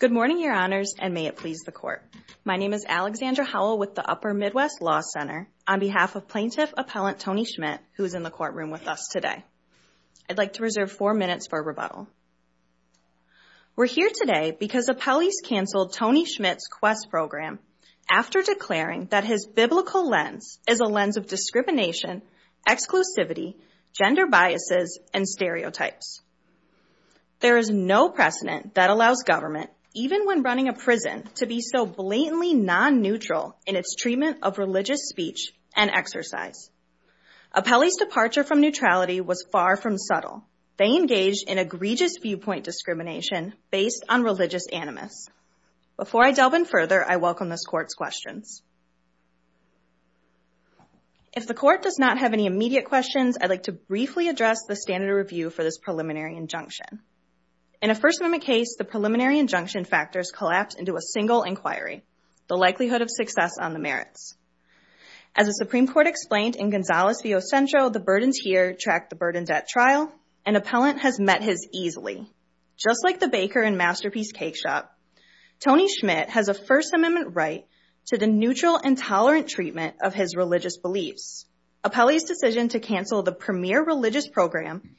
Good morning, Your Honors, and may it please the Court. My name is Alexandra Howell with the Upper Midwest Law Center, on behalf of Plaintiff Appellant Tony Schmitt, who is in the courtroom with us today. I'd like to reserve four minutes for rebuttal. We're here today because appellees canceled Tony Schmitt's QUEST program after declaring that his biblical lens is a lens of discrimination, exclusivity, gender biases, and stereotypes. There is no precedent that allows government, even when running a prison, to be so blatantly non-neutral in its treatment of religious speech and exercise. Appellee's departure from neutrality was far from subtle. They engaged in egregious viewpoint discrimination based on religious animus. Before I delve in further, I welcome this Court's questions. If the Court does not have any immediate questions, I'd like to briefly address the standard of review for this preliminary injunction. In a First Amendment case, the preliminary injunction factors collapse into a single inquiry, the likelihood of success on the merits. As the Supreme Court explained in Gonzales v. O. Centro, the burdens here track the burden debt trial, and appellant has met his easily. Just like the baker in Masterpiece Cakeshop, Tony Schmitt has a First Amendment right to the neutral and tolerant treatment of his religious beliefs. Appellee's decision to cancel the premier religious program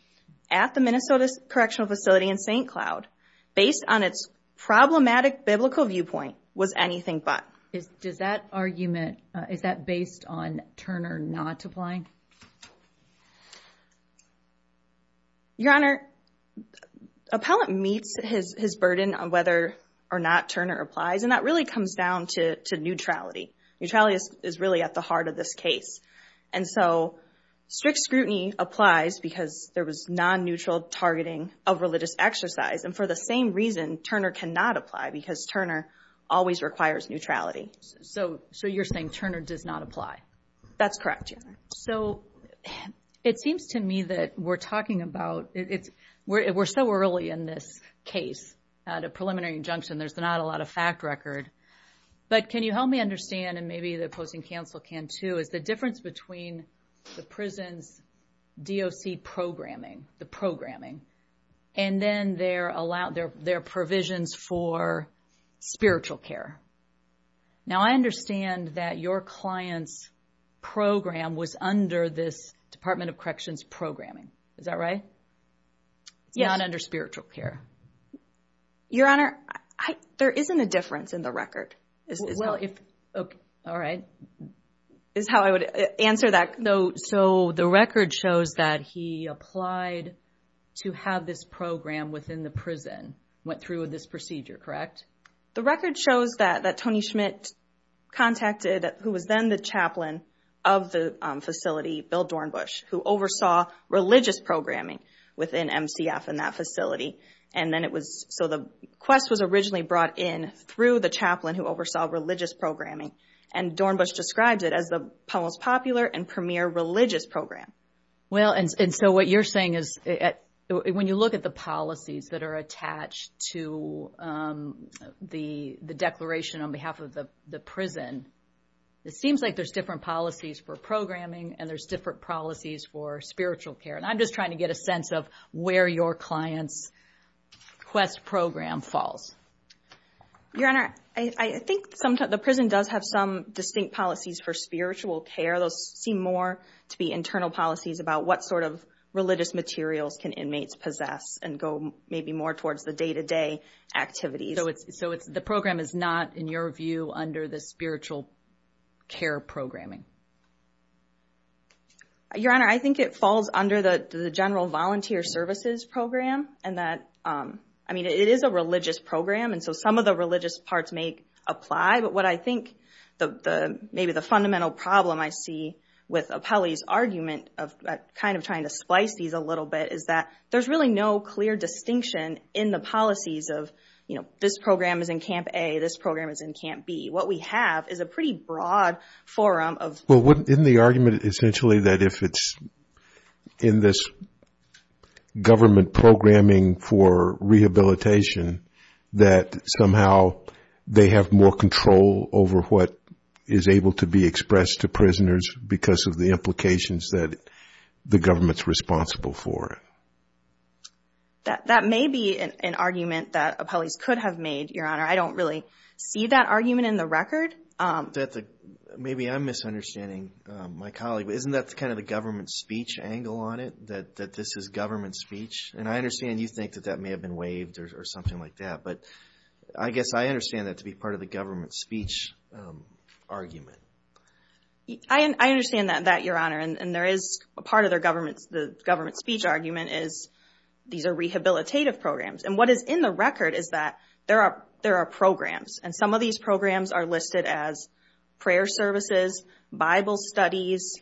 at the Minnesota Correctional Facility in St. Cloud based on its problematic biblical viewpoint was anything but. Does that argument, is that based on Turner not applying? Your Honor, appellant meets his burden on whether or not Turner applies, and that really comes down to neutrality. Neutrality is really at the heart of this case, and so strict scrutiny applies because there was non-neutral targeting of religious exercise, and for the same reason, Turner cannot apply because Turner always requires neutrality. So you're saying Turner does not apply? That's correct, Your Honor. So it seems to me that we're talking about, we're so early in this case at a preliminary injunction, there's not a lot of fact record, but can you help me understand, and maybe the opposing counsel can too, is the difference between the prison's DOC programming, the programming, and then their provisions for spiritual care. Now I understand that your client's program was under this Department of Corrections programming. Is that right? Yes. It's not under spiritual care. Your Honor, there isn't a difference in the record. All right. Is how I would answer that. So the record shows that he applied to have this program within the prison, went through with this procedure, correct? The record shows that Tony Schmidt contacted, who was then the chaplain of the facility, Bill Dornbusch, who oversaw religious programming within MCF in that facility. And then it was, so the quest was originally brought in through the chaplain who oversaw religious programming, and Dornbusch described it as the most popular and premier religious program. Well, and so what you're saying is when you look at the policies that are attached to the declaration on behalf of the prison, it seems like there's different policies for programming and there's different policies for spiritual care. And I'm just trying to get a sense of where your client's quest program falls. Your Honor, I think the prison does have some distinct policies for spiritual care. Those seem more to be internal policies about what sort of religious materials can inmates possess and go maybe more towards the day-to-day activities. So the program is not, in your view, under the spiritual care programming? Your Honor, I think it falls under the general volunteer services program. And that, I mean, it is a religious program, and so some of the religious parts may apply. But what I think maybe the fundamental problem I see with Apelli's argument of kind of trying to splice these a little bit is that there's really no clear distinction in the policies of, you know, this program is in Camp A, this program is in Camp B. What we have is a pretty broad forum of... Well, isn't the argument essentially that if it's in this government programming for rehabilitation, that somehow they have more control over what is able to be expressed to prisoners because of the implications that the government's responsible for it? That may be an argument that Apelli's could have made, Your Honor. I don't really see that argument in the record. Maybe I'm misunderstanding my colleague, but isn't that kind of the government speech angle on it, that this is government speech? And I understand you think that that may have been waived or something like that, but I guess I understand that to be part of the government speech argument. I understand that, Your Honor, and there is a part of the government speech argument is these are rehabilitative programs. And what is in the record is that there are programs, and some of these programs are listed as prayer services, Bible studies,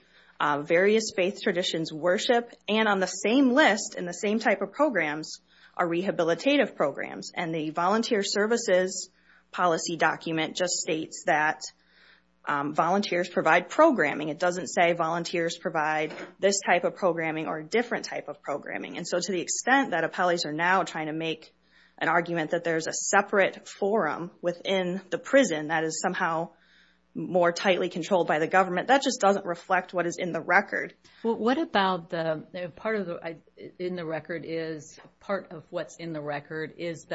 various faith traditions, worship, and on the same list in the same type of programs are rehabilitative programs. And the volunteer services policy document just states that volunteers provide programming. It doesn't say volunteers provide this type of programming or a different type of programming. And so to the extent that Apelli's are now trying to make an argument that there's a separate forum within the prison that is somehow more tightly controlled by the government, that just doesn't reflect what is in the record. Well, what about the part of what's in the record is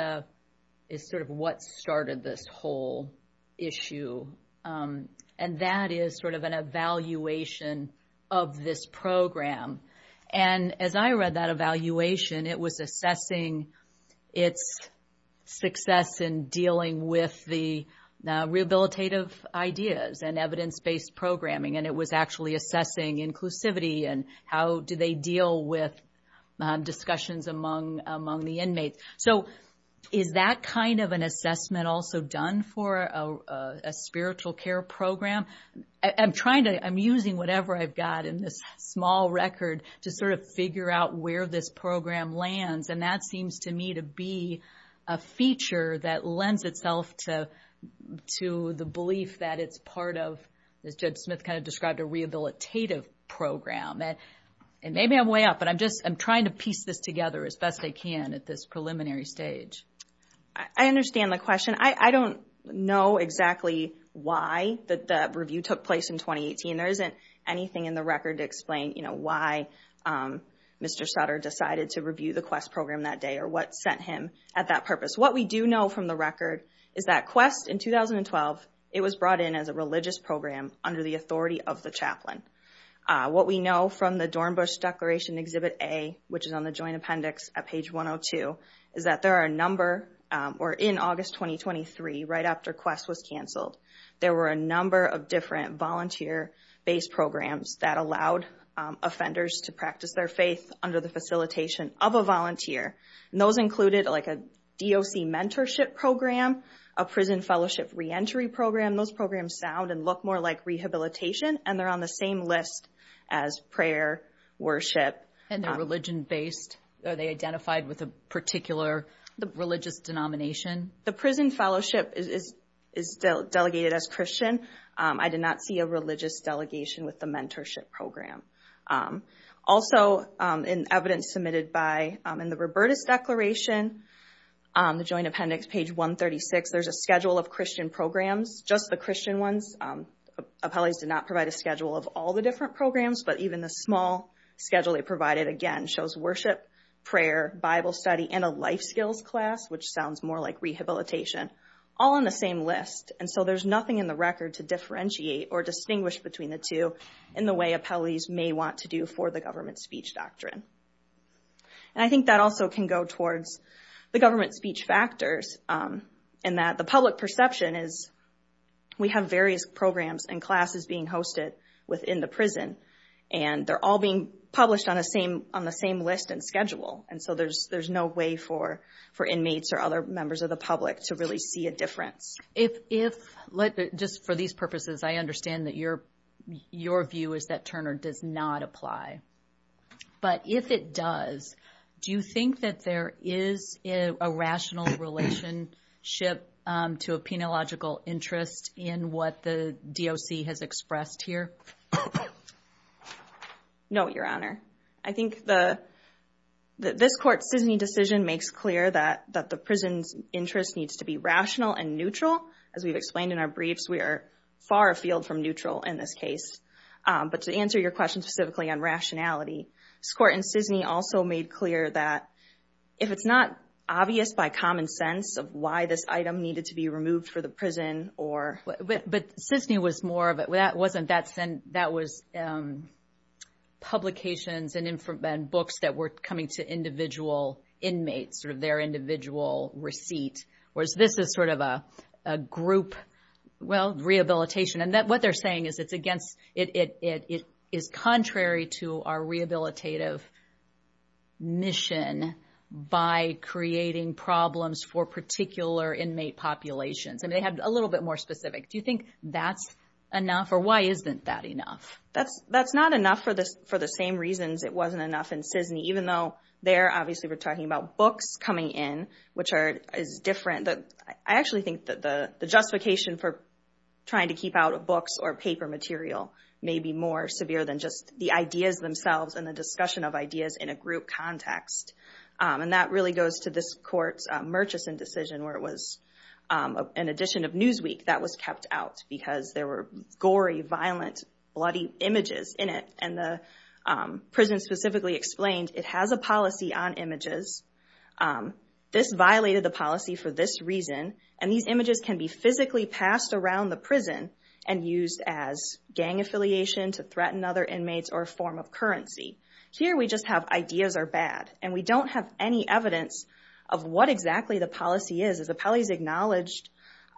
sort of what started this whole issue, and that is sort of an evaluation of this program. And as I read that evaluation, it was assessing its success in dealing with the rehabilitative ideas and evidence-based programming, and it was actually assessing inclusivity and how do they deal with discussions among the inmates. So is that kind of an assessment also done for a spiritual care program? I'm using whatever I've got in this small record to sort of figure out where this program lands, and that seems to me to be a feature that lends itself to the belief that it's part of, as Judge Smith kind of described, a rehabilitative program. And maybe I'm way off, but I'm trying to piece this together as best I can at this preliminary stage. I understand the question. I don't know exactly why the review took place in 2018. There isn't anything in the record to explain why Mr. Sutter decided to review the QUEST program that day or what sent him at that purpose. What we do know from the record is that QUEST, in 2012, it was brought in as a religious program under the authority of the chaplain. What we know from the Dornbush Declaration Exhibit A, which is on the Joint Appendix at page 102, is that there are a number, or in August 2023, right after QUEST was canceled, there were a number of different volunteer-based programs that allowed offenders to practice their faith under the facilitation of a volunteer. And those included, like, a DOC mentorship program, a prison fellowship reentry program. Those programs sound and look more like rehabilitation, and they're on the same list as prayer, worship. And they're religion-based? Are they identified with a particular religious denomination? The prison fellowship is delegated as Christian. I did not see a religious delegation with the mentorship program. Also, in evidence submitted in the Robertus Declaration, the Joint Appendix, page 136, there's a schedule of Christian programs, just the Christian ones. Appellees did not provide a schedule of all the different programs, but even the small schedule they provided, again, shows worship, prayer, Bible study, and a life skills class, which sounds more like rehabilitation, all on the same list. And so there's nothing in the record to differentiate or distinguish between the two in the way appellees may want to do for the government speech doctrine. And I think that also can go towards the government speech factors, in that the public perception is we have various programs and classes being hosted within the prison, and they're all being published on the same list and schedule. And so there's no way for inmates or other members of the public to really see a difference. If, just for these purposes, I understand that your view is that Turner does not apply. But if it does, do you think that there is a rational relationship to a penological interest in what the DOC has expressed here? No, Your Honor. I think that this Court's Sisney decision makes clear that the prison's interest needs to be rational and neutral. As we've explained in our briefs, we are far afield from neutral in this case. But to answer your question specifically on rationality, this Court in Sisney also made clear that if it's not obvious by common sense of why this item needed to be removed for the prison or— But Sisney was more of a—that wasn't that—that was publications and books that were coming to individual inmates, sort of their individual receipt, whereas this is sort of a group, well, rehabilitation. And what they're saying is it's against—it is contrary to our rehabilitative mission by creating problems for particular inmate populations. And they have a little bit more specific. Do you think that's enough, or why isn't that enough? That's not enough for the same reasons it wasn't enough in Sisney, even though there, obviously, we're talking about books coming in, which are—is different. I actually think that the justification for trying to keep out books or paper material may be more severe than just the ideas themselves and the discussion of ideas in a group context. And that really goes to this Court's Murchison decision, where it was an edition of Newsweek that was kept out because there were gory, violent, bloody images in it. And the prison specifically explained it has a policy on images. This violated the policy for this reason, and these images can be physically passed around the prison and used as gang affiliation to threaten other inmates or a form of currency. Here we just have ideas are bad, and we don't have any evidence of what exactly the policy is. As the Pelley's acknowledged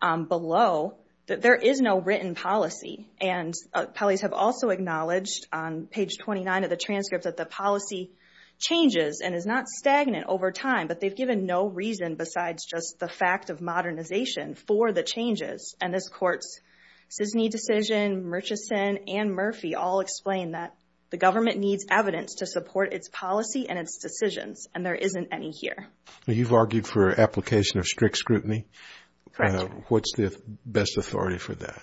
below, that there is no written policy. And Pelley's have also acknowledged on page 29 of the transcript that the policy changes and is not stagnant over time, but they've given no reason besides just the fact of modernization for the changes. And this Court's Sisney decision, Murchison, and Murphy all explain that the government needs evidence to support its policy and its decisions, and there isn't any here. You've argued for application of strict scrutiny. What's the best authority for that?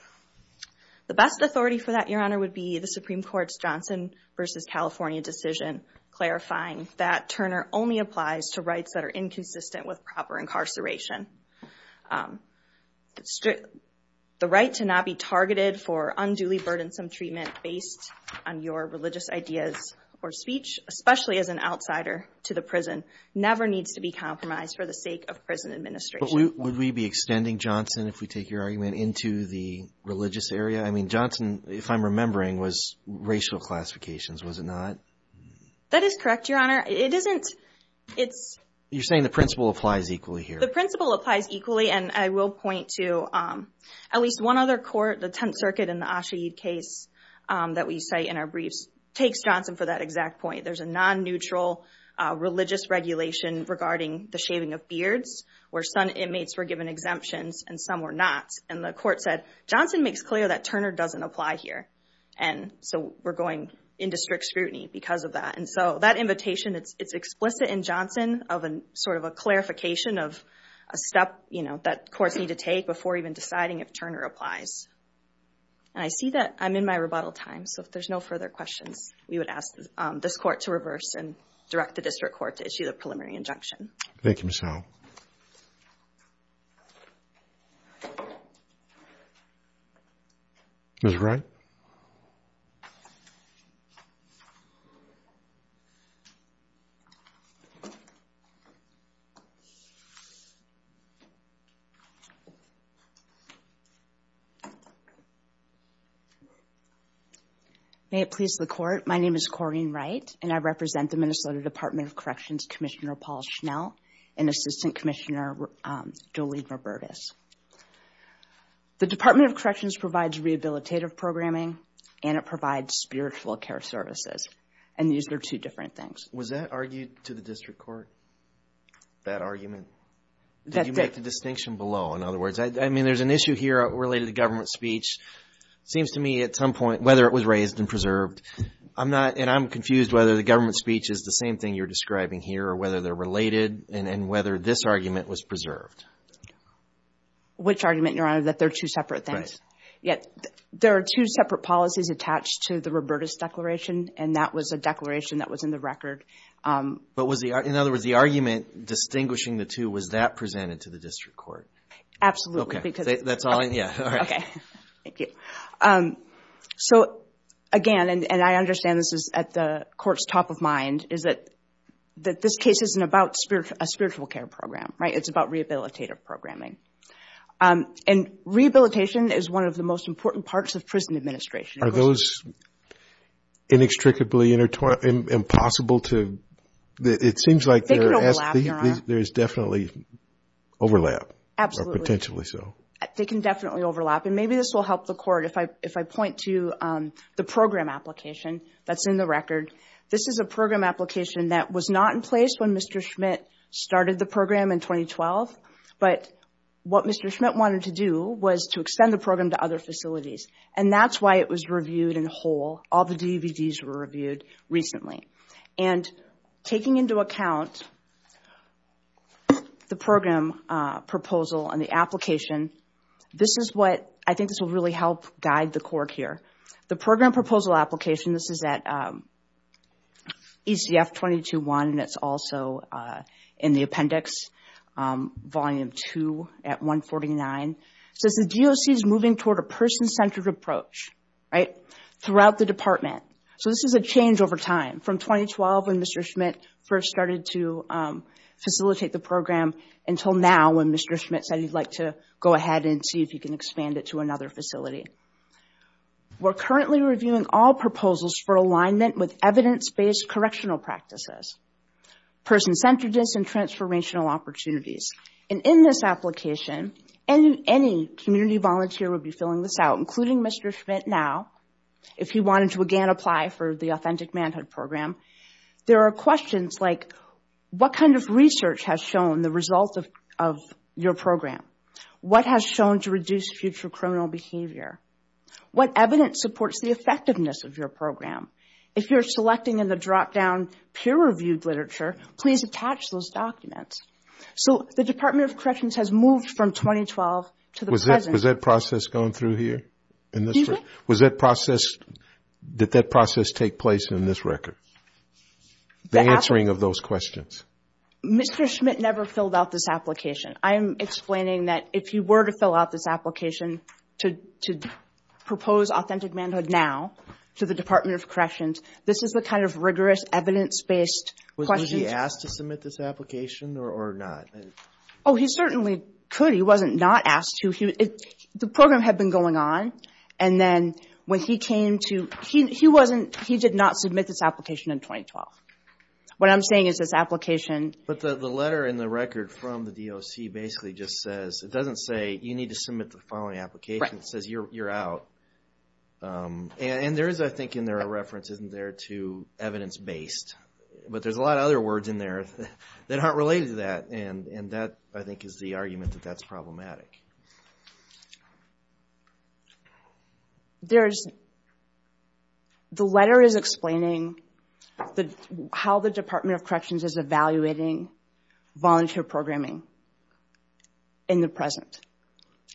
The best authority for that, Your Honor, would be the Supreme Court's Johnson v. California decision clarifying that Turner only applies to rights that are inconsistent with proper incarceration. The right to not be targeted for unduly burdensome treatment based on your religious ideas or speech, especially as an outsider to the prison, never needs to be compromised for the sake of prison administration. But would we be extending Johnson, if we take your argument, into the religious area? I mean, Johnson, if I'm remembering, was racial classifications, was it not? That is correct, Your Honor. It isn't. It's... You're saying the principle applies equally here. Well, the principle applies equally, and I will point to at least one other court, the Tenth Circuit in the Ashaeed case that we cite in our briefs, takes Johnson for that exact point. There's a non-neutral religious regulation regarding the shaving of beards, where some inmates were given exemptions and some were not. And the Court said, Johnson makes clear that Turner doesn't apply here, and so we're going into strict scrutiny because of that. And so that invitation, it's explicit in Johnson of sort of a clarification of a step, you know, that courts need to take before even deciding if Turner applies. And I see that I'm in my rebuttal time, so if there's no further questions, we would ask this Court to reverse and direct the District Court to issue the preliminary injunction. Thank you, Michelle. Ms. Wright. May it please the Court, my name is Corrine Wright, and I represent the Minnesota Department of Corrections Commissioner Paul Schnell and Assistant Commissioner Jolene Robertus. The Department of Corrections provides rehabilitative programming and it provides spiritual care services, and these are two different things. Was that argued to the District Court, that argument? Did you make the distinction below, in other words? I mean, there's an issue here related to government speech. It seems to me at some point, whether it was raised and preserved, and I'm confused whether the government speech is the same thing you're describing here or whether they're related and whether this argument was preserved. Which argument, Your Honor, that they're two separate things? There are two separate policies attached to the Robertus Declaration, and that was a declaration that was in the record. In other words, the argument distinguishing the two, was that presented to the District Court? Absolutely. Okay, thank you. Again, and I understand this is at the Court's top of mind, is that this case isn't about a spiritual care program, right? It's about rehabilitative programming. Rehabilitation is one of the most important parts of prison administration. Are those inextricably impossible to… It seems like there's definitely overlap. Absolutely. Or potentially so. They can definitely overlap. And maybe this will help the Court if I point to the program application that's in the record. This is a program application that was not in place when Mr. Schmidt started the program in 2012, but what Mr. Schmidt wanted to do was to extend the program to other facilities, and that's why it was reviewed in whole. All the DVDs were reviewed recently. And taking into account the program proposal and the application, this is what I think will really help guide the court here. The program proposal application, this is at ECF 221, and it's also in the appendix, Volume 2 at 149. It says the DOC is moving toward a person-centered approach throughout the department. So this is a change over time from 2012 when Mr. Schmidt first started to facilitate the program until now when Mr. Schmidt said he'd like to go ahead and see if he can expand it to another facility. We're currently reviewing all proposals for alignment with evidence-based correctional practices, person-centeredness, and transformational opportunities. And in this application, any community volunteer would be filling this out, including Mr. Schmidt now, if he wanted to again apply for the Authentic Manhood Program. There are questions like, what kind of research has shown the result of your program? What has shown to reduce future criminal behavior? What evidence supports the effectiveness of your program? If you're selecting in the drop-down peer-reviewed literature, please attach those documents. So the Department of Corrections has moved from 2012 to the present. Was that process going through here? Did that process take place in this record, the answering of those questions? Mr. Schmidt never filled out this application. I am explaining that if he were to fill out this application to propose Authentic Manhood now to the Department of Corrections, this is the kind of rigorous evidence-based questions. Was he asked to submit this application or not? Oh, he certainly could. He wasn't not asked to. The program had been going on. And then when he came to, he did not submit this application in 2012. What I'm saying is this application... But the letter in the record from the DOC basically just says, it doesn't say you need to submit the following application. It says you're out. And there is, I think, in there a reference, isn't there, to evidence-based. But there's a lot of other words in there that aren't related to that. And that, I think, is the argument that that's problematic. There's... The letter is explaining how the Department of Corrections is evaluating volunteer programming in the present.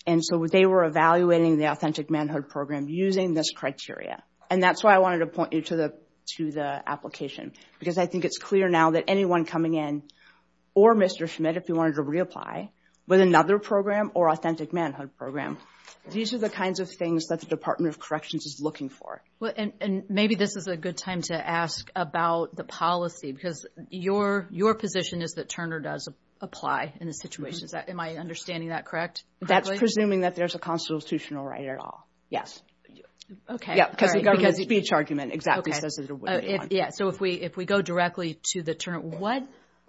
And so they were evaluating the Authentic Manhood program using this criteria. And that's why I wanted to point you to the application. Because I think it's clear now that anyone coming in, or Mr. Schmidt, if he wanted to reapply with another program or Authentic Manhood program, these are the kinds of things that the Department of Corrections is looking for. And maybe this is a good time to ask about the policy. Because your position is that Turner does apply in this situation. Am I understanding that correctly? That's presuming that there's a constitutional right at all. Yes. Okay. All right. Because the government speech argument exactly says that it would. Yeah. So if we go directly to the Turner...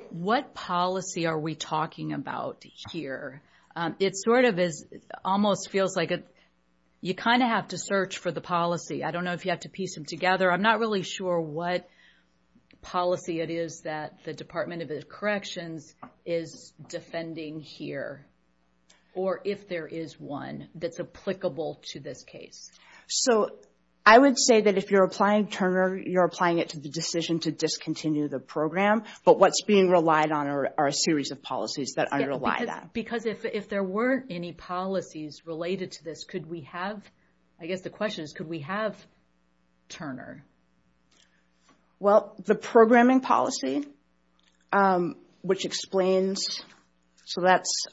What policy are we talking about here? It sort of almost feels like you kind of have to search for the policy. I don't know if you have to piece them together. I'm not really sure what policy it is that the Department of Corrections is defending here. Or if there is one that's applicable to this case. So I would say that if you're applying Turner, you're applying it to the decision to discontinue the program. But what's being relied on are a series of policies that underlie that. Because if there weren't any policies related to this, could we have... I guess the question is, could we have Turner? Well, the programming policy, which explains... So that's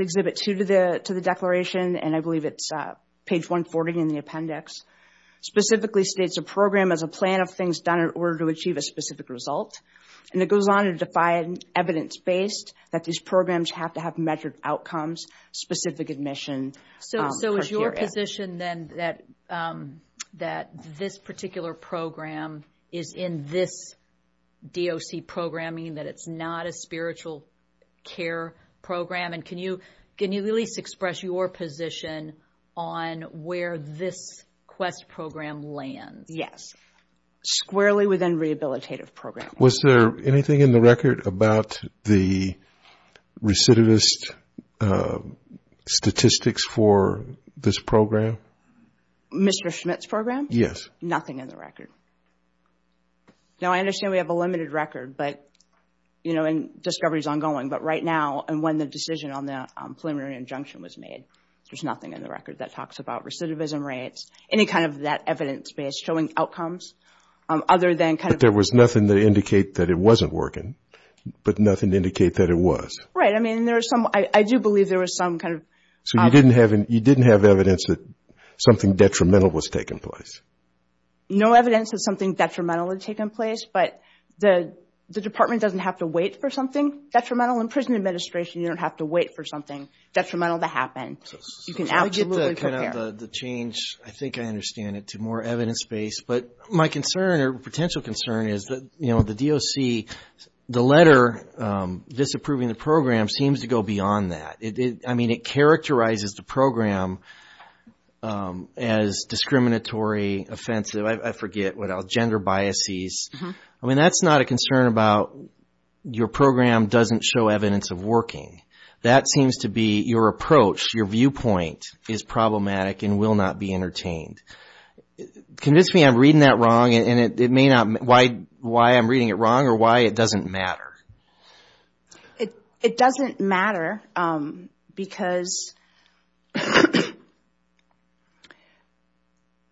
Exhibit 2 to the declaration. And I believe it's page 140 in the appendix. Specifically states a program as a plan of things done in order to achieve a specific result. And it goes on to define evidence-based, that these programs have to have measured outcomes, specific admission criteria. So is your position then that this particular program is in this DOC programming, that it's not a spiritual care program? And can you at least express your position on where this Quest program lands? Yes. Squarely within rehabilitative programming. Was there anything in the record about the recidivist statistics for this program? Mr. Schmidt's program? Yes. Nothing in the record. Now, I understand we have a limited record, but, you know, and discovery is ongoing. But right now, and when the decision on the preliminary injunction was made, there's nothing in the record that talks about recidivism rates, any kind of that evidence-based showing outcomes other than kind of... But there was nothing to indicate that it wasn't working, but nothing to indicate that it was. Right. I mean, I do believe there was some kind of... So you didn't have evidence that something detrimental was taking place? No evidence that something detrimental had taken place, but the department doesn't have to wait for something detrimental. In prison administration, you don't have to wait for something detrimental to happen. You can absolutely prepare. I get the change. I think I understand it to more evidence-based. But my concern or potential concern is that, you know, the DOC, the letter disapproving the program seems to go beyond that. I mean, it characterizes the program as discriminatory, offensive, I forget what else, gender biases. I mean, that's not a concern about your program doesn't show evidence of working. That seems to be your approach, your viewpoint is problematic and will not be entertained. Convince me I'm reading that wrong and it may not... why I'm reading it wrong or why it doesn't matter. It doesn't matter because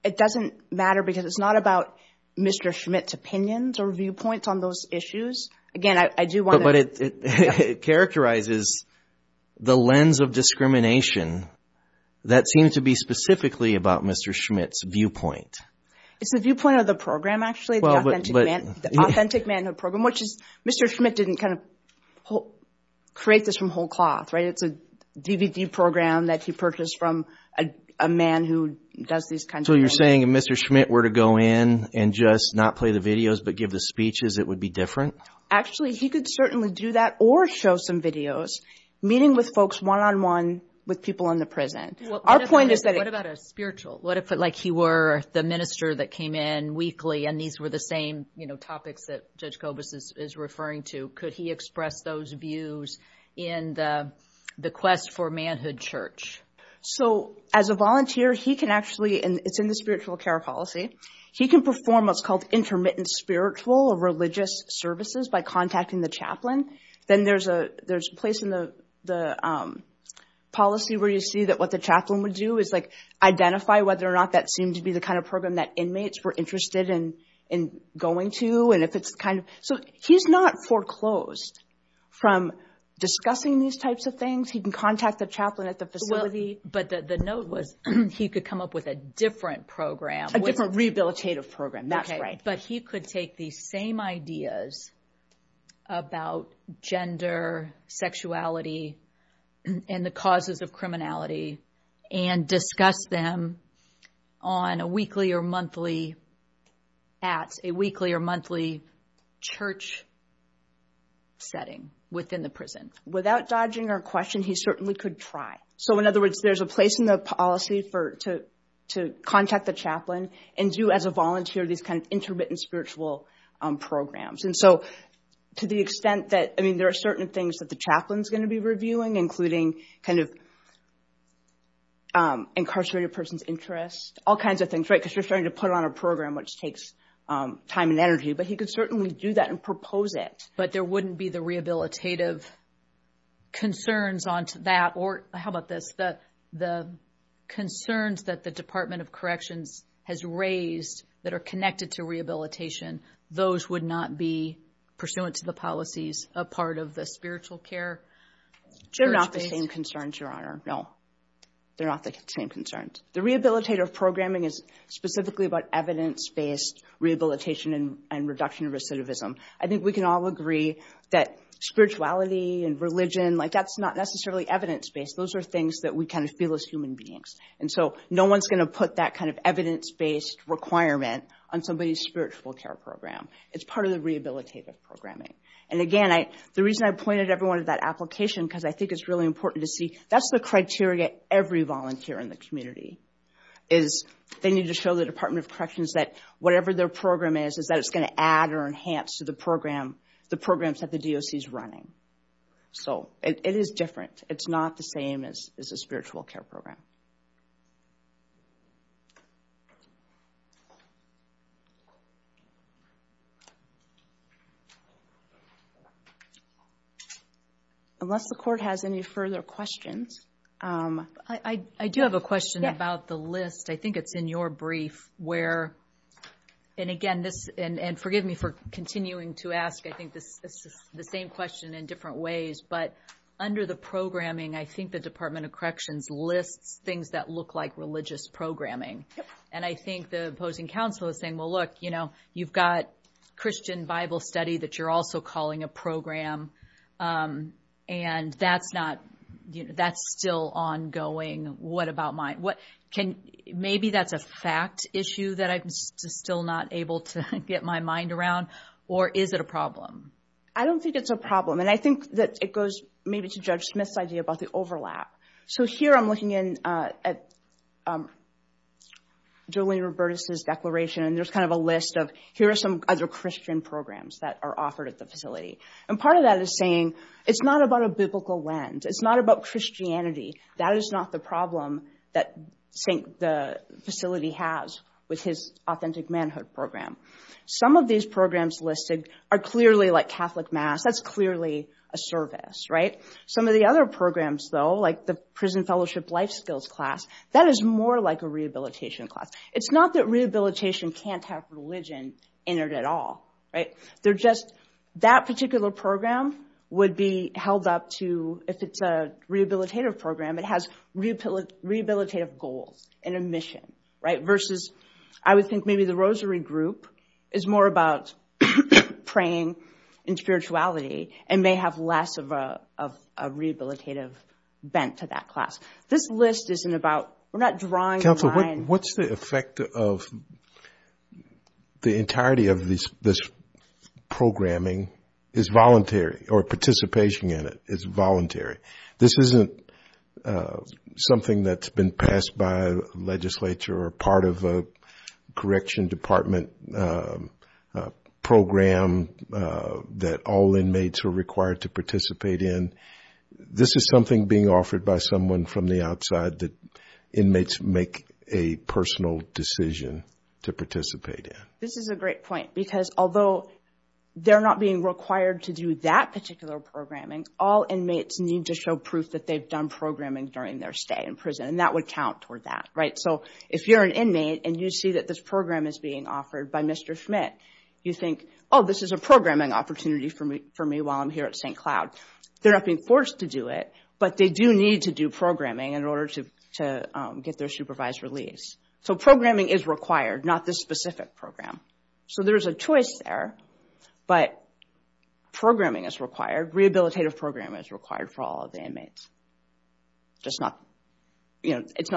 it's not about Mr. Schmidt's opinions or viewpoints on those issues. Again, I do want to... But it characterizes the lens of discrimination that seems to be specifically about Mr. Schmidt's viewpoint. It's the viewpoint of the program actually, the authentic manhood program, which is Mr. Schmidt didn't kind of create this from whole cloth, right? It's a DVD program that he purchased from a man who does these kinds of programs. So you're saying if Mr. Schmidt were to go in and just not play the videos but give the speeches, it would be different? Actually, he could certainly do that or show some videos, meeting with folks one-on-one with people in the prison. Our point is that... What about a spiritual? What if, like, he were the minister that came in weekly and these were the same topics that Judge Kobus is referring to? Could he express those views in the quest for manhood church? So as a volunteer, he can actually... It's in the spiritual care policy. He can perform what's called intermittent spiritual or religious services by contacting the chaplain. Then there's a place in the policy where you see that what the chaplain would do is, like, identify whether or not that seemed to be the kind of program that inmates were interested in going to. So he's not foreclosed from discussing these types of things. He can contact the chaplain at the facility. But the note was he could come up with a different program. A different rehabilitative program, that's right. But he could take these same ideas about gender, sexuality, and the causes of criminality and discuss them on a weekly or monthly church setting within the prison. Without dodging our question, he certainly could try. So in other words, there's a place in the policy to contact the chaplain and do as a volunteer these kind of intermittent spiritual programs. And so to the extent that... I mean, there are certain things that the chaplain's going to be reviewing, including kind of incarcerated person's interest, all kinds of things, right, because you're starting to put on a program which takes time and energy. But he could certainly do that and propose it. But there wouldn't be the rehabilitative concerns on to that or... How about this? The concerns that the Department of Corrections has raised that are connected to rehabilitation, those would not be pursuant to the policies a part of the spiritual care? They're not the same concerns, Your Honor, no. They're not the same concerns. The rehabilitative programming is specifically about evidence-based rehabilitation and reduction of recidivism. I think we can all agree that spirituality and religion, like, that's not necessarily evidence-based. Those are things that we kind of feel as human beings. And so no one's going to put that kind of evidence-based requirement on somebody's spiritual care program. It's part of the rehabilitative programming. And, again, the reason I pointed everyone to that application, because I think it's really important to see that's the criteria every volunteer in the community is. They need to show the Department of Corrections that whatever their program is, is that it's going to add or enhance to the programs that the DOC is running. So it is different. It's not the same as a spiritual care program. Unless the Court has any further questions. I do have a question about the list. I think it's in your brief where, and, again, forgive me for continuing to ask. I think this is the same question in different ways. But under the programming, I think the Department of Corrections lists things that look like religious programming. And I think the opposing counsel is saying, well, look, you know, you've got Christian Bible study that you're also calling a program, and that's still ongoing. Maybe that's a fact issue that I'm still not able to get my mind around, or is it a problem? I don't think it's a problem. And I think that it goes maybe to Judge Smith's idea about the overlap. So here I'm looking at Julian Robertus' declaration, and there's kind of a list of here are some other Christian programs that are offered at the facility. And part of that is saying it's not about a biblical lens. It's not about Christianity. That is not the problem that the facility has with his authentic manhood program. Some of these programs listed are clearly like Catholic Mass. That's clearly a service. Some of the other programs, though, like the Prison Fellowship Life Skills class, that is more like a rehabilitation class. It's not that rehabilitation can't have religion entered at all. That particular program would be held up to, if it's a rehabilitative program, it has rehabilitative goals and a mission, versus I would think maybe the Rosary group is more about praying and spirituality and may have less of a rehabilitative bent to that class. This list isn't about – we're not drawing a line. Counselor, what's the effect of the entirety of this programming is voluntary or participation in it is voluntary? This isn't something that's been passed by legislature or part of a correction department program that all inmates are required to participate in. This is something being offered by someone from the outside that inmates make a personal decision to participate in. This is a great point because although they're not being required to do that particular programming, all inmates need to show proof that they've done programming during their stay in prison, and that would count toward that. If you're an inmate and you see that this program is being offered by Mr. Schmidt, you think, oh, this is a programming opportunity for me while I'm here at St. Cloud. They're not being forced to do it, but they do need to do programming in order to get their supervised release. Programming is required, not this specific program. So there's a choice there, but programming is required. Rehabilitative programming is required for all of the inmates. It's not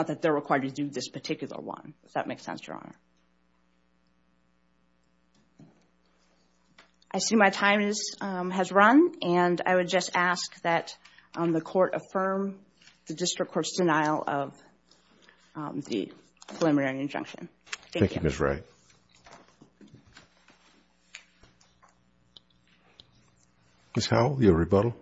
that they're required to do this particular one, if that makes sense, Your Honor. I see my time has run, and I would just ask that the court affirm the district court's denial of the preliminary injunction. Thank you, Ms. Wright. Ms. Howell, your rebuttal.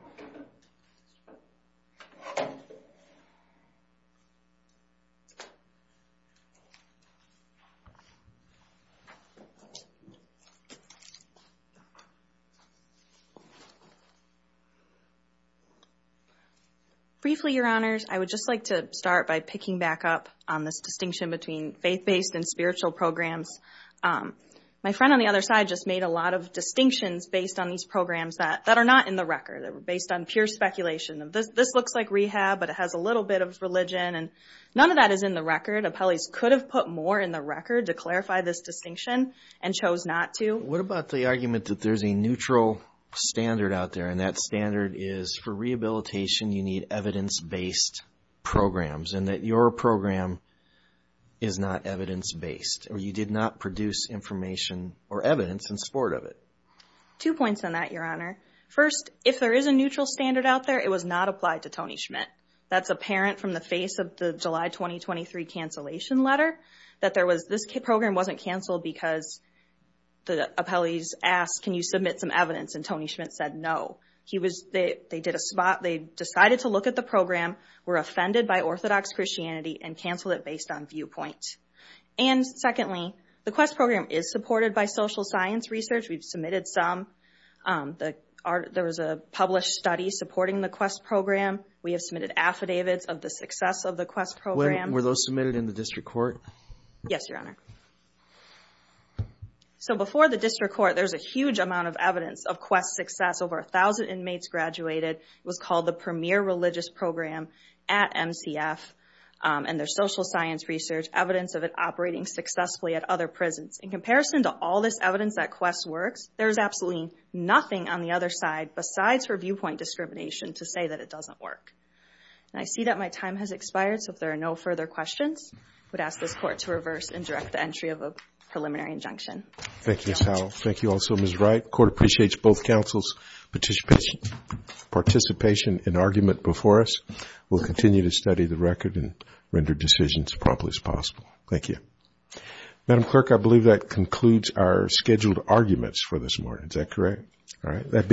Briefly, Your Honors, I would just like to start by picking back up on this distinction between faith-based and spiritual programs. My friend on the other side just made a lot of distinctions based on these programs that are not in the record. They were based on pure speculation. This looks like rehab, but it has a little bit of religion, and none of that is in the record. Appellees could have put more in the record to clarify this distinction and chose not to. What about the argument that there's a neutral standard out there, and that standard is for rehabilitation, you need evidence-based programs, and that your program is not evidence-based, or you did not produce information or evidence in support of it. Two points on that, Your Honor. First, if there is a neutral standard out there, it was not applied to Tony Schmidt. That's apparent from the face of the July 2023 cancellation letter, that this program wasn't canceled because the appellees asked, can you submit some evidence, and Tony Schmidt said no. They decided to look at the program, were offended by Orthodox Christianity, and canceled it based on viewpoint. And secondly, the QUEST program is supported by social science research. We've submitted some. There was a published study supporting the QUEST program. We have submitted affidavits of the success of the QUEST program. Were those submitted in the district court? Yes, Your Honor. Before the district court, there's a huge amount of evidence of QUEST success. Over 1,000 inmates graduated. It was called the Premier Religious Program at MCF, and there's social science research, evidence of it operating successfully at other prisons. In comparison to all this evidence that QUEST works, there's absolutely nothing on the other side besides her viewpoint discrimination to say that it doesn't work. And I see that my time has expired, so if there are no further questions, I would ask this Court to reverse and direct the entry of a preliminary injunction. Thank you, Ms. Howell. Thank you also, Ms. Wright. The Court appreciates both counsels' participation and argument before us. We'll continue to study the record and render decisions properly as possible. Thank you. Madam Clerk, I believe that concludes our scheduled arguments for this morning. Is that correct? All right.